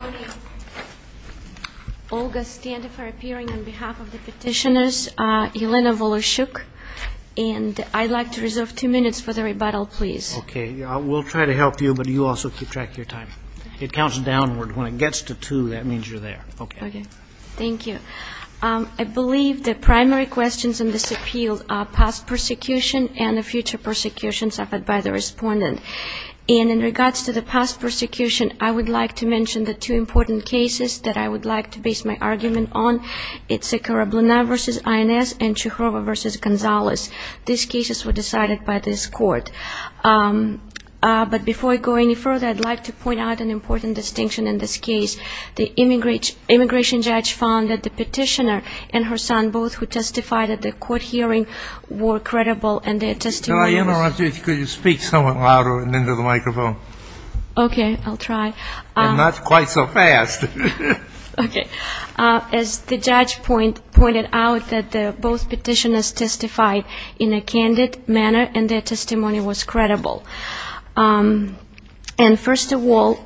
I believe the primary questions in this appeal are past persecution and the future persecution suffered by the respondent. And in regards to the past persecution, I would like to mention the two important cases that I would like to base my argument on. It's Sekerabluna v. INS and Chukhova v. Gonzalez. These cases were decided by this court. But before I go any further, I'd like to point out an important distinction in this case. The immigration judge found that the petitioner and her son, both who testified at the court hearing, were credible and their testimonies And first of all,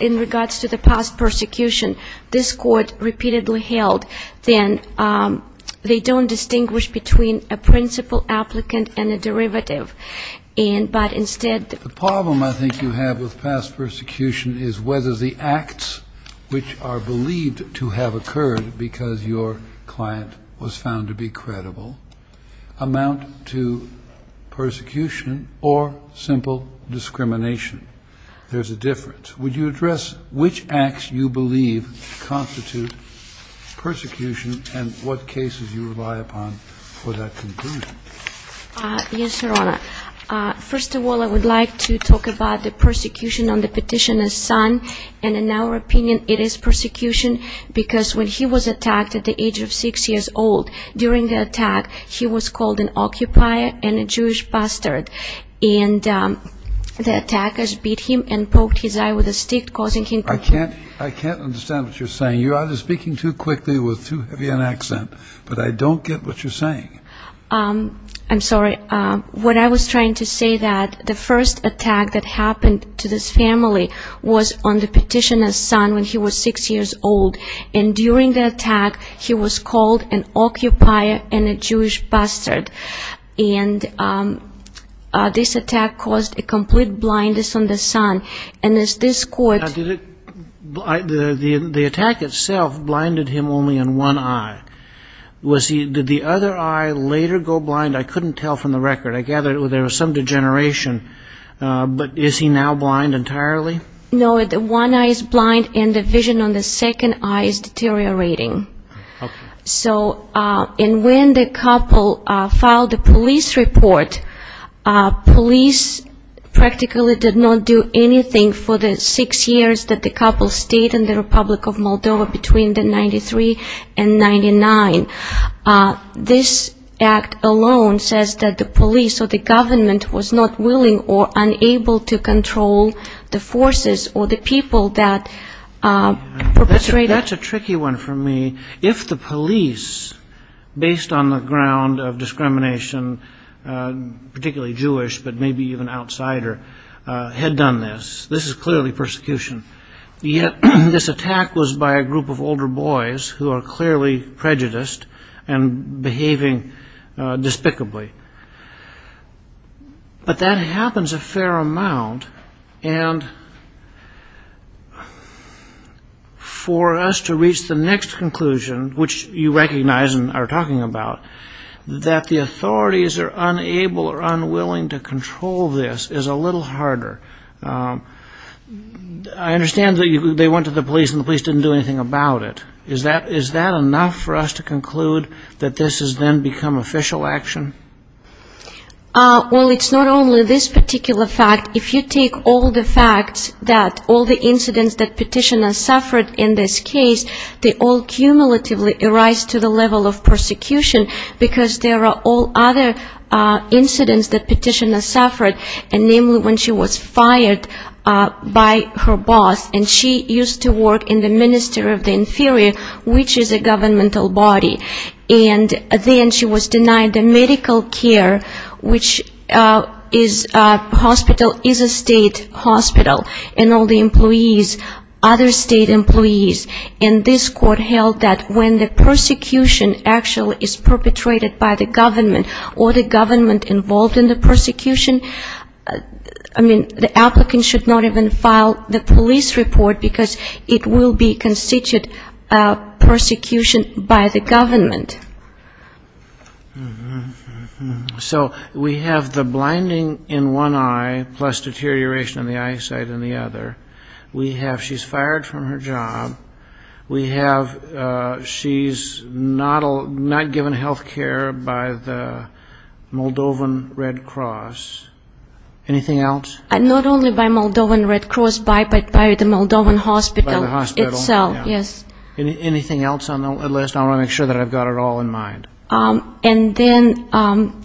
in regards to the past persecution, this court repeatedly held that they don't distinguish between a principal applicant and a judge. The problem I think you have with past persecution is whether the acts which are believed to have occurred because your client was found to be credible amount to persecution or simple discrimination. There's a difference. Would you address which acts you believe constitute persecution and what cases you rely upon for that conclusion? Yes, Your Honor. First of all, I would like to talk about the persecution on the petitioner's son. And in our opinion, it is persecution because when he was attacked at the age of six years old, during the attack, he was called an occupier and a Jewish bastard. And the attackers beat him and poked his eye with a stick, causing him to bleed. I can't understand what you're saying. You are speaking too quickly with too heavy an accent. But I don't get what you're saying. I'm sorry. What I was trying to say that the first attack that happened to this family was on the petitioner's son when he was six years old. And during the attack, he was called an occupier and a Jewish bastard. And this attack caused a complete blindness on the son. And as this court... The attack itself blinded him only in one eye. Did the other eye later go blind? I couldn't tell from the record. I gather there was some degeneration. But is he now blind entirely? No, the one eye is blind, and the vision on the second eye is deteriorating. So when the couple filed the police report, police practically did not do anything for the six years that the couple stayed in the Republic of Moldova between the 93 and 99. This act alone says that the police or the government was not willing or unable to control the forces or the people that perpetrated. That's a tricky one for me. If the police, based on the ground of discrimination, particularly Jewish but maybe even outsider, had done this, this is clearly persecution. Yet this attack was by a group of older boys who are clearly prejudiced and behaving despicably. But that happens a fair amount. And for us to reach the next conclusion, which you recognize and are talking about, that the authorities are unable or unwilling to control this is a little harder. I understand that they went to the police and the police didn't do anything about it. Is that enough for us to conclude that this has then become official action? Well, it's not only this particular fact. If you take all the facts that all the incidents that Petitioner suffered in this case, they all cumulatively arise to the level of persecution because there are all other incidents that Petitioner suffered, and namely when she was fired by her boss. And she used to work in the Ministry of the Inferior, which is a governmental body. And then she was denied the medical care, which is a state hospital, and all the employees, other state employees. And this court held that when the persecution actually is perpetrated by the government or the government involved in the persecution, I mean, the applicant should not even file the police report because it will be constituted persecution by the government. So we have the blinding in one eye plus deterioration in the eyesight in the other. We have she's fired from her job. We have she's not given health care by the Moldovan Red Cross. Anything else? Not only by Moldovan Red Cross, but by the Moldovan hospital itself, yes. Anything else on the list? I want to make sure that I've got it all in mind. And then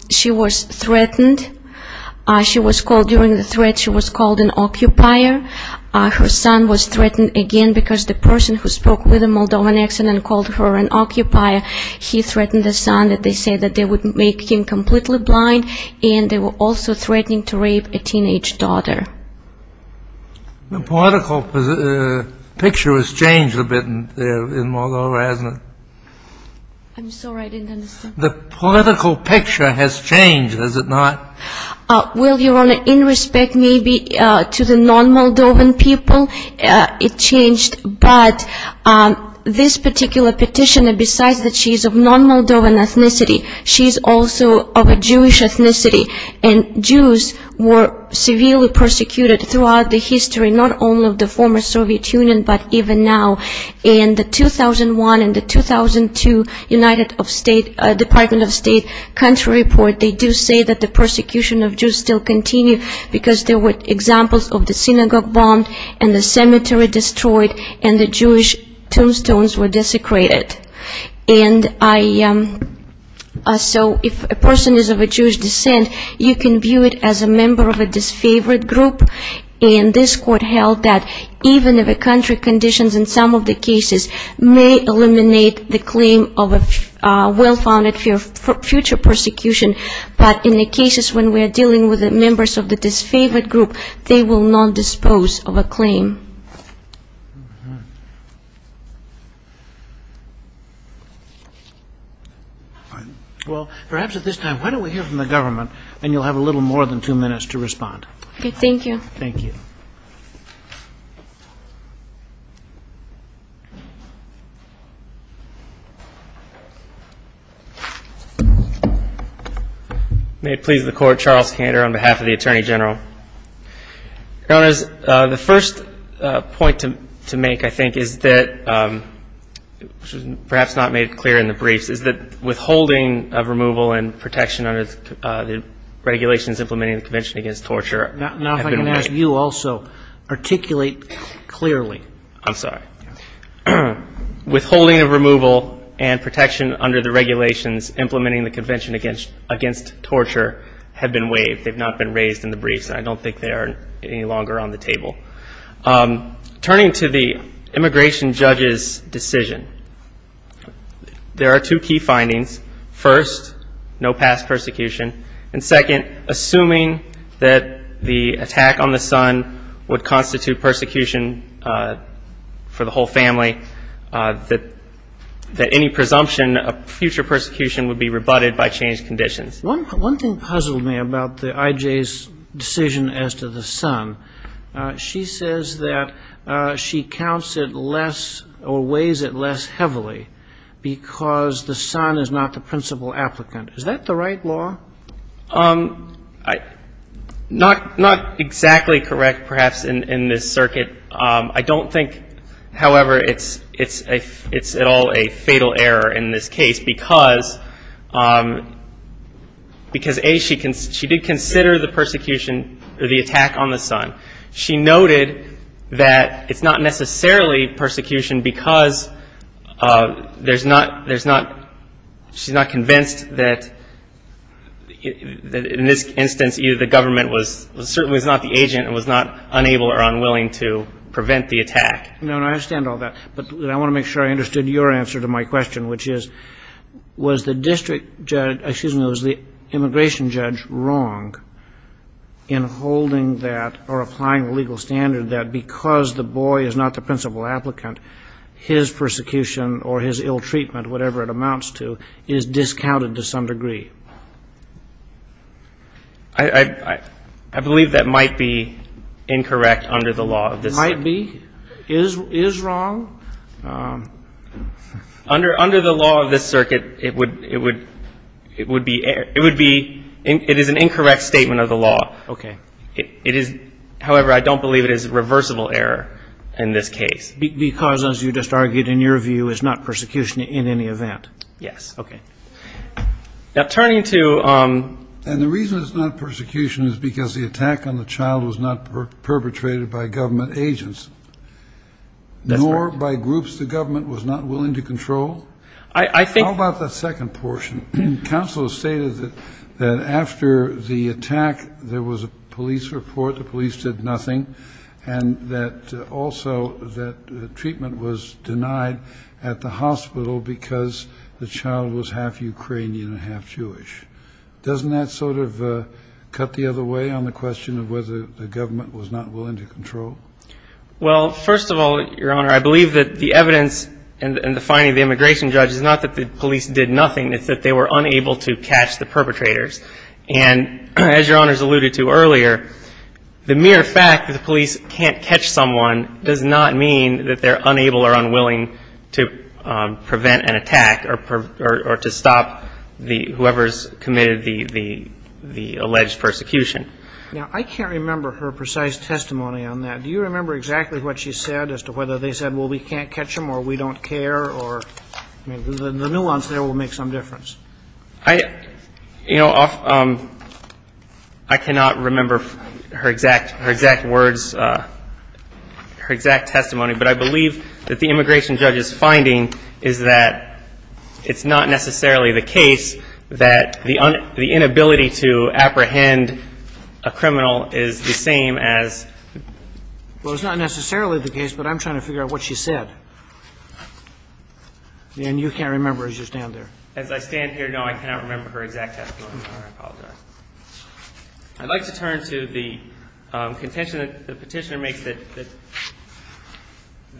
she was threatened. She was called during the threat, she was called an occupier. Her son was threatened again because the person who spoke with the Moldovan accident called her an occupier. He threatened the son that they said that they would make him completely blind, and they were also threatening to rape a teenage daughter. The political picture has changed a bit in Moldova, hasn't it? I'm sorry, I didn't understand. The political picture has changed, has it not? Well, Your Honor, in respect maybe to the non-Moldovan people, it changed. But this particular petitioner, besides that she's of non-Moldovan ethnicity, she's also of a Jewish ethnicity. And Jews were severely persecuted throughout the history, not only of the former Soviet Union, but even now. In the 2001 and the 2002 Department of State country report, they do say that the persecution of Jews still continues because there were examples of the synagogue bombed and the cemetery destroyed and the Jewish tombstones were desecrated. And so if a person is of a Jewish descent, you can view it as a member of a disfavored group. And this court held that even if a country conditions in some of the cases may eliminate the claim of a well-founded future persecution, but in the cases when we are dealing with members of the disfavored group, they will not dispose of a claim. Well, perhaps at this time, why don't we hear from the government, and you'll have a little more than two minutes to respond. Okay, thank you. Thank you. May it please the Court, Charles Kander on behalf of the Attorney General. Your Honors, the first point to make, I think, is that, perhaps not made clear in the briefs, is that withholding of removal and protection under the regulations implementing the Convention Against Torture have been waived. Now if I can ask you also, articulate clearly. I'm sorry. Withholding of removal and protection under the regulations implementing the Convention Against Torture have been waived. They've not been raised in the briefs, and I don't think they are any longer on the table. Turning to the immigration judge's decision, there are two key findings. First, no past persecution. And second, assuming that the attack on the son would constitute persecution for the whole family, that any presumption of future persecution would be rebutted by changed conditions. One thing puzzled me about the IJ's decision as to the son. She says that she counts it less or weighs it less heavily because the son is not the principal applicant. Is that the right law? Not exactly correct, perhaps, in this circuit. I don't think, however, it's at all a fatal error in this case because, A, she did consider the persecution or the attack on the son. She noted that it's not necessarily persecution because she's not convinced that, in this instance, either the government was certainly not the agent and was not unable or unwilling to prevent the attack. No, no, I understand all that. But I want to make sure I understood your answer to my question, which is, was the district judge ‑‑ excuse me, was the immigration judge wrong in holding that or applying the legal standard that because the boy is not the principal applicant, his persecution or his ill treatment, whatever it amounts to, is discounted to some degree? I believe that might be incorrect under the law of this circuit. Might be? Is wrong? Under the law of this circuit, it would be ‑‑ it is an incorrect statement of the law. Okay. However, I don't believe it is a reversible error in this case. Because, as you just argued in your view, it's not persecution in any event. Yes. Okay. Now, turning to ‑‑ And the reason it's not persecution is because the attack on the child was not perpetrated by government agents. That's right. Nor by groups the government was not willing to control. I think ‑‑ How about that second portion? Counsel has stated that after the attack, there was a police report, the police did nothing, and that also that treatment was denied at the hospital because the child was half Ukrainian and half Jewish. Doesn't that sort of cut the other way on the question of whether the government was not willing to control? Well, first of all, Your Honor, I believe that the evidence in the finding of the immigration judge is not that the police did nothing. It's that they were unable to catch the perpetrators. And as Your Honor has alluded to earlier, the mere fact that the police can't catch someone does not mean that they're unable or unwilling to prevent an attack or to stop whoever's committed the alleged persecution. Now, I can't remember her precise testimony on that. Do you remember exactly what she said as to whether they said, well, we can't catch them or we don't care, or the nuance there will make some difference? You know, I cannot remember her exact words, her exact testimony, but I believe that the immigration judge's finding is that it's not necessarily the case that the inability to apprehend a criminal is the same as... Well, it's not necessarily the case, but I'm trying to figure out what she said. And you can't remember as you stand there. As I stand here, no, I cannot remember her exact testimony. I apologize. I'd like to turn to the contention that the Petitioner makes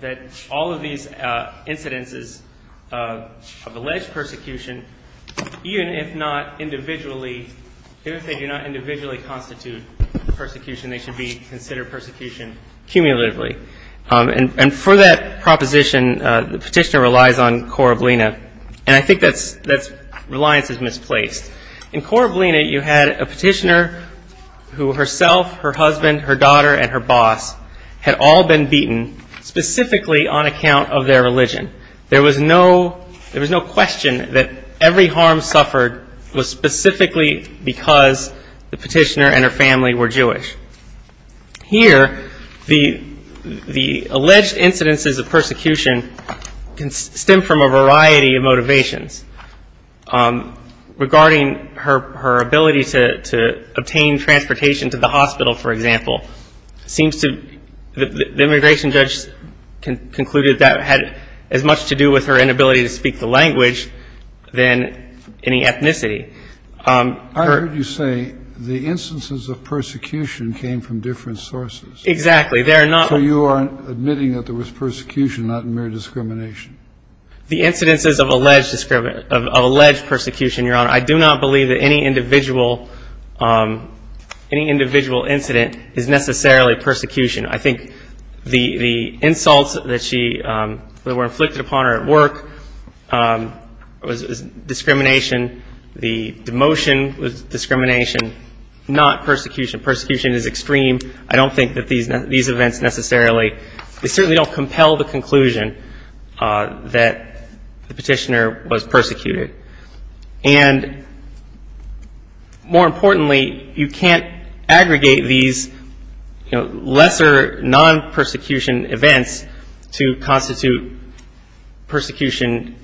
that all of these incidences of alleged persecution, even if they do not individually constitute persecution, they should be considered persecution cumulatively. And for that proposition, the Petitioner relies on cor oblina. And I think that reliance is misplaced. In cor oblina, you had a Petitioner who herself, her husband, her daughter, and her boss had all been beaten specifically on account of their religion. There was no question that every harm suffered was specifically because the Petitioner and her family were Jewish. Here, the alleged incidences of persecution can stem from a variety of motivations. Regarding her ability to obtain transportation to the hospital, for example, it seems to the immigration judge concluded that had as much to do with her inability to speak the language than any ethnicity. I heard you say the instances of persecution came from different sources. Exactly. So you are admitting that there was persecution, not mere discrimination. The incidences of alleged persecution, Your Honor, I do not believe that any individual incident is necessarily persecution. I think the insults that were inflicted upon her at work was discrimination. The demotion was discrimination, not persecution. Persecution is extreme. I don't think that these events necessarily, they certainly don't compel the conclusion that the Petitioner was persecuted. And more importantly, you can't aggregate these lesser non-persecution events to constitute persecution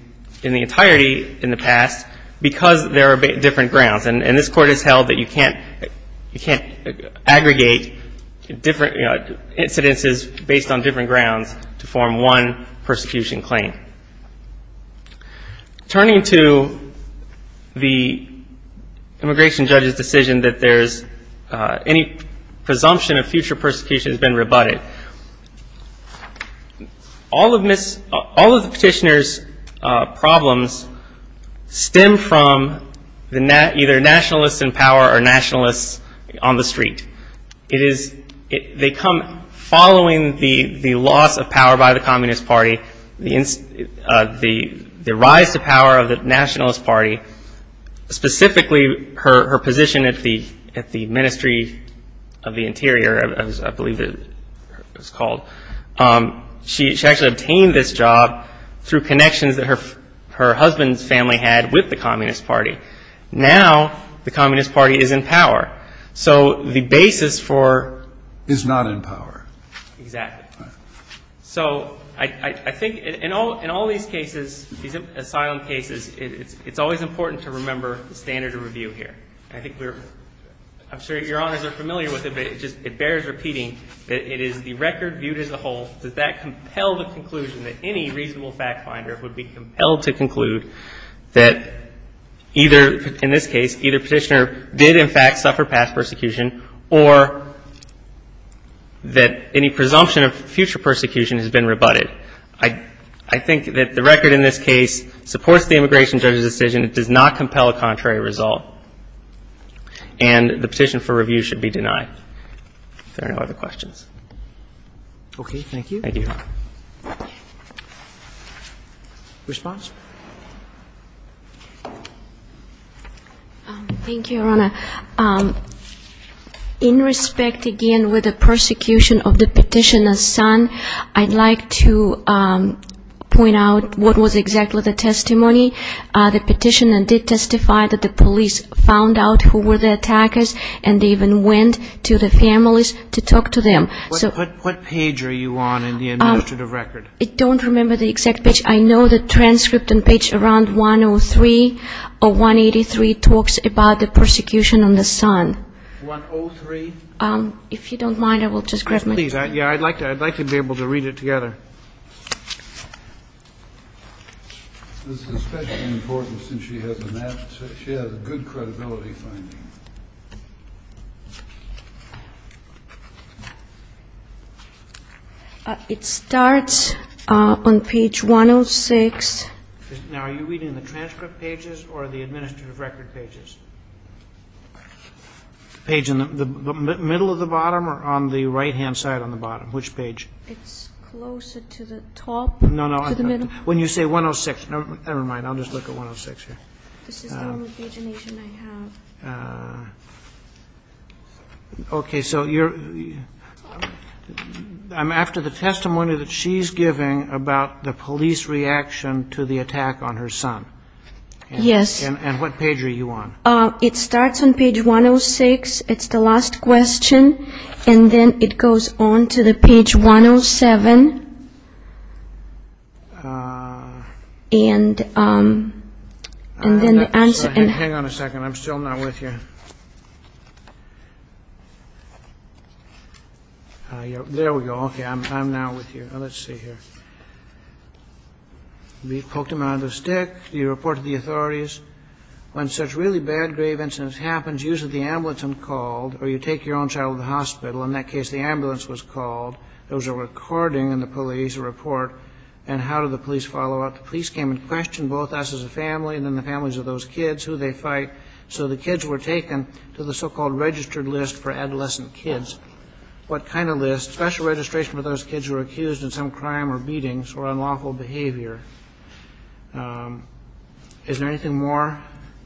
in the entirety in the past because there are different grounds. And this Court has held that you can't aggregate different incidences based on different grounds to form one persecution claim. Turning to the immigration judge's decision that any presumption of future persecution has been rebutted, all of the Petitioner's problems stem from either nationalists in power or nationalists on the street. They come following the loss of power by the Communist Party, the rise to power of the Nationalist Party, specifically her position at the Ministry of the Interior, as I believe it was called. She actually obtained this job through connections that her husband's family had with the Communist Party. Now the Communist Party is in power. So the basis for- Is not in power. Exactly. So I think in all these cases, these asylum cases, it's always important to remember the standard of review here. I think we're, I'm sure Your Honors are familiar with it, but it just, it bears repeating that it is the record viewed as a whole that that compelled the conclusion that any reasonable fact finder would be compelled to conclude that either, in this case, either Petitioner did in fact suffer past persecution or that any presumption of future persecution has been rebutted. I think that the record in this case supports the immigration judge's decision. It does not compel a contrary result. And the petition for review should be denied. If there are no other questions. Okay. Thank you. Response? Thank you, Your Honor. In respect, again, with the persecution of the Petitioner's son, I'd like to point out what was exactly the testimony. The Petitioner did testify that the police found out who were the attackers and they even went to the families to talk to them. What page are you on in the administrative record? I don't remember the exact page. I know the transcript and page around 103 or 183 talks about the persecution on the son. 103? If you don't mind, I will just grab my pen. Yeah, I'd like to be able to read it together. This is especially important since she has a good credibility finding. It starts on page 106. Now, are you reading the transcript pages or the administrative record pages? The page in the middle of the bottom or on the right-hand side on the bottom? Which page? It's closer to the top. No, no. When you say 106. Never mind. I'll just look at 106 here. This is the only pagination I have. Okay. So I'm after the testimony that she's giving about the police reaction to the attack on her son. Yes. And what page are you on? It starts on page 106. It's the last question. And then it goes on to the page 107. And then the answer. Hang on a second. I'm still not with you. There we go. Okay. I'm now with you. Let's see here. We poked him out of the stick. You reported to the authorities. When such really bad, grave incidents happen, usually the ambulance is called or you take your own child to the hospital. In that case, the ambulance was called. There was a recording in the police report. And how did the police follow up? The police came and questioned both us as a family and then the families of those kids, who they fight. So the kids were taken to the so-called registered list for adolescent kids. What kind of list? Special registration for those kids who were accused of some crime or beatings or unlawful behavior. Is there anything more?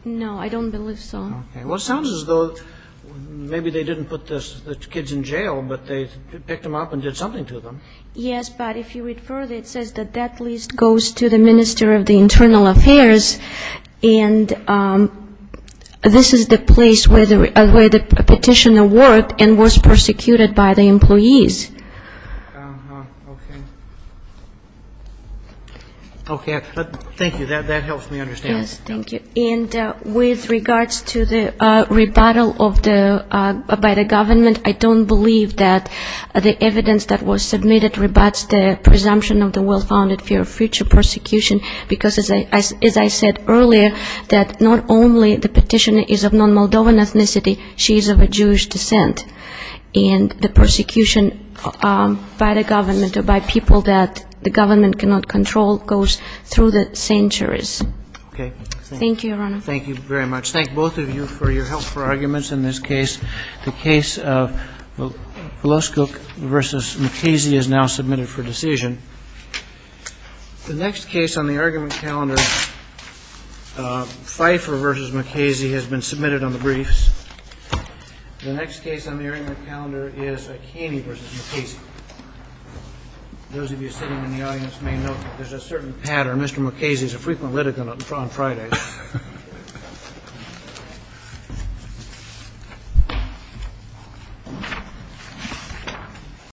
No, I don't believe so. Okay. Well, it sounds as though maybe they didn't put the kids in jail, but they picked them up and did something to them. Yes, but if you read further, it says that that list goes to the Minister of the Internal Affairs. And this is the place where the petitioner worked and was persecuted by the employees. Okay. Okay. Thank you. That helps me understand. Yes, thank you. And with regards to the rebuttal by the government, I don't believe that the evidence that was submitted rebuts the presumption of the well-founded fear of future persecution because, as I said earlier, that not only the petitioner is of non-Moldovan ethnicity, she is of a Jewish descent. And the persecution by the government or by people that the government cannot control goes through the centuries. Okay. Thank you, Your Honor. Thank you very much. Thank both of you for your help for arguments in this case. The case of Vloskuk v. McKaysey is now submitted for decision. The next case on the argument calendar, Pfeiffer v. McKaysey, has been submitted on the briefs. The next case on the argument calendar is Akane v. McKaysey. Those of you sitting in the audience may note that there's a certain pattern. Mr. McKaysey is a frequent litigant on Fridays.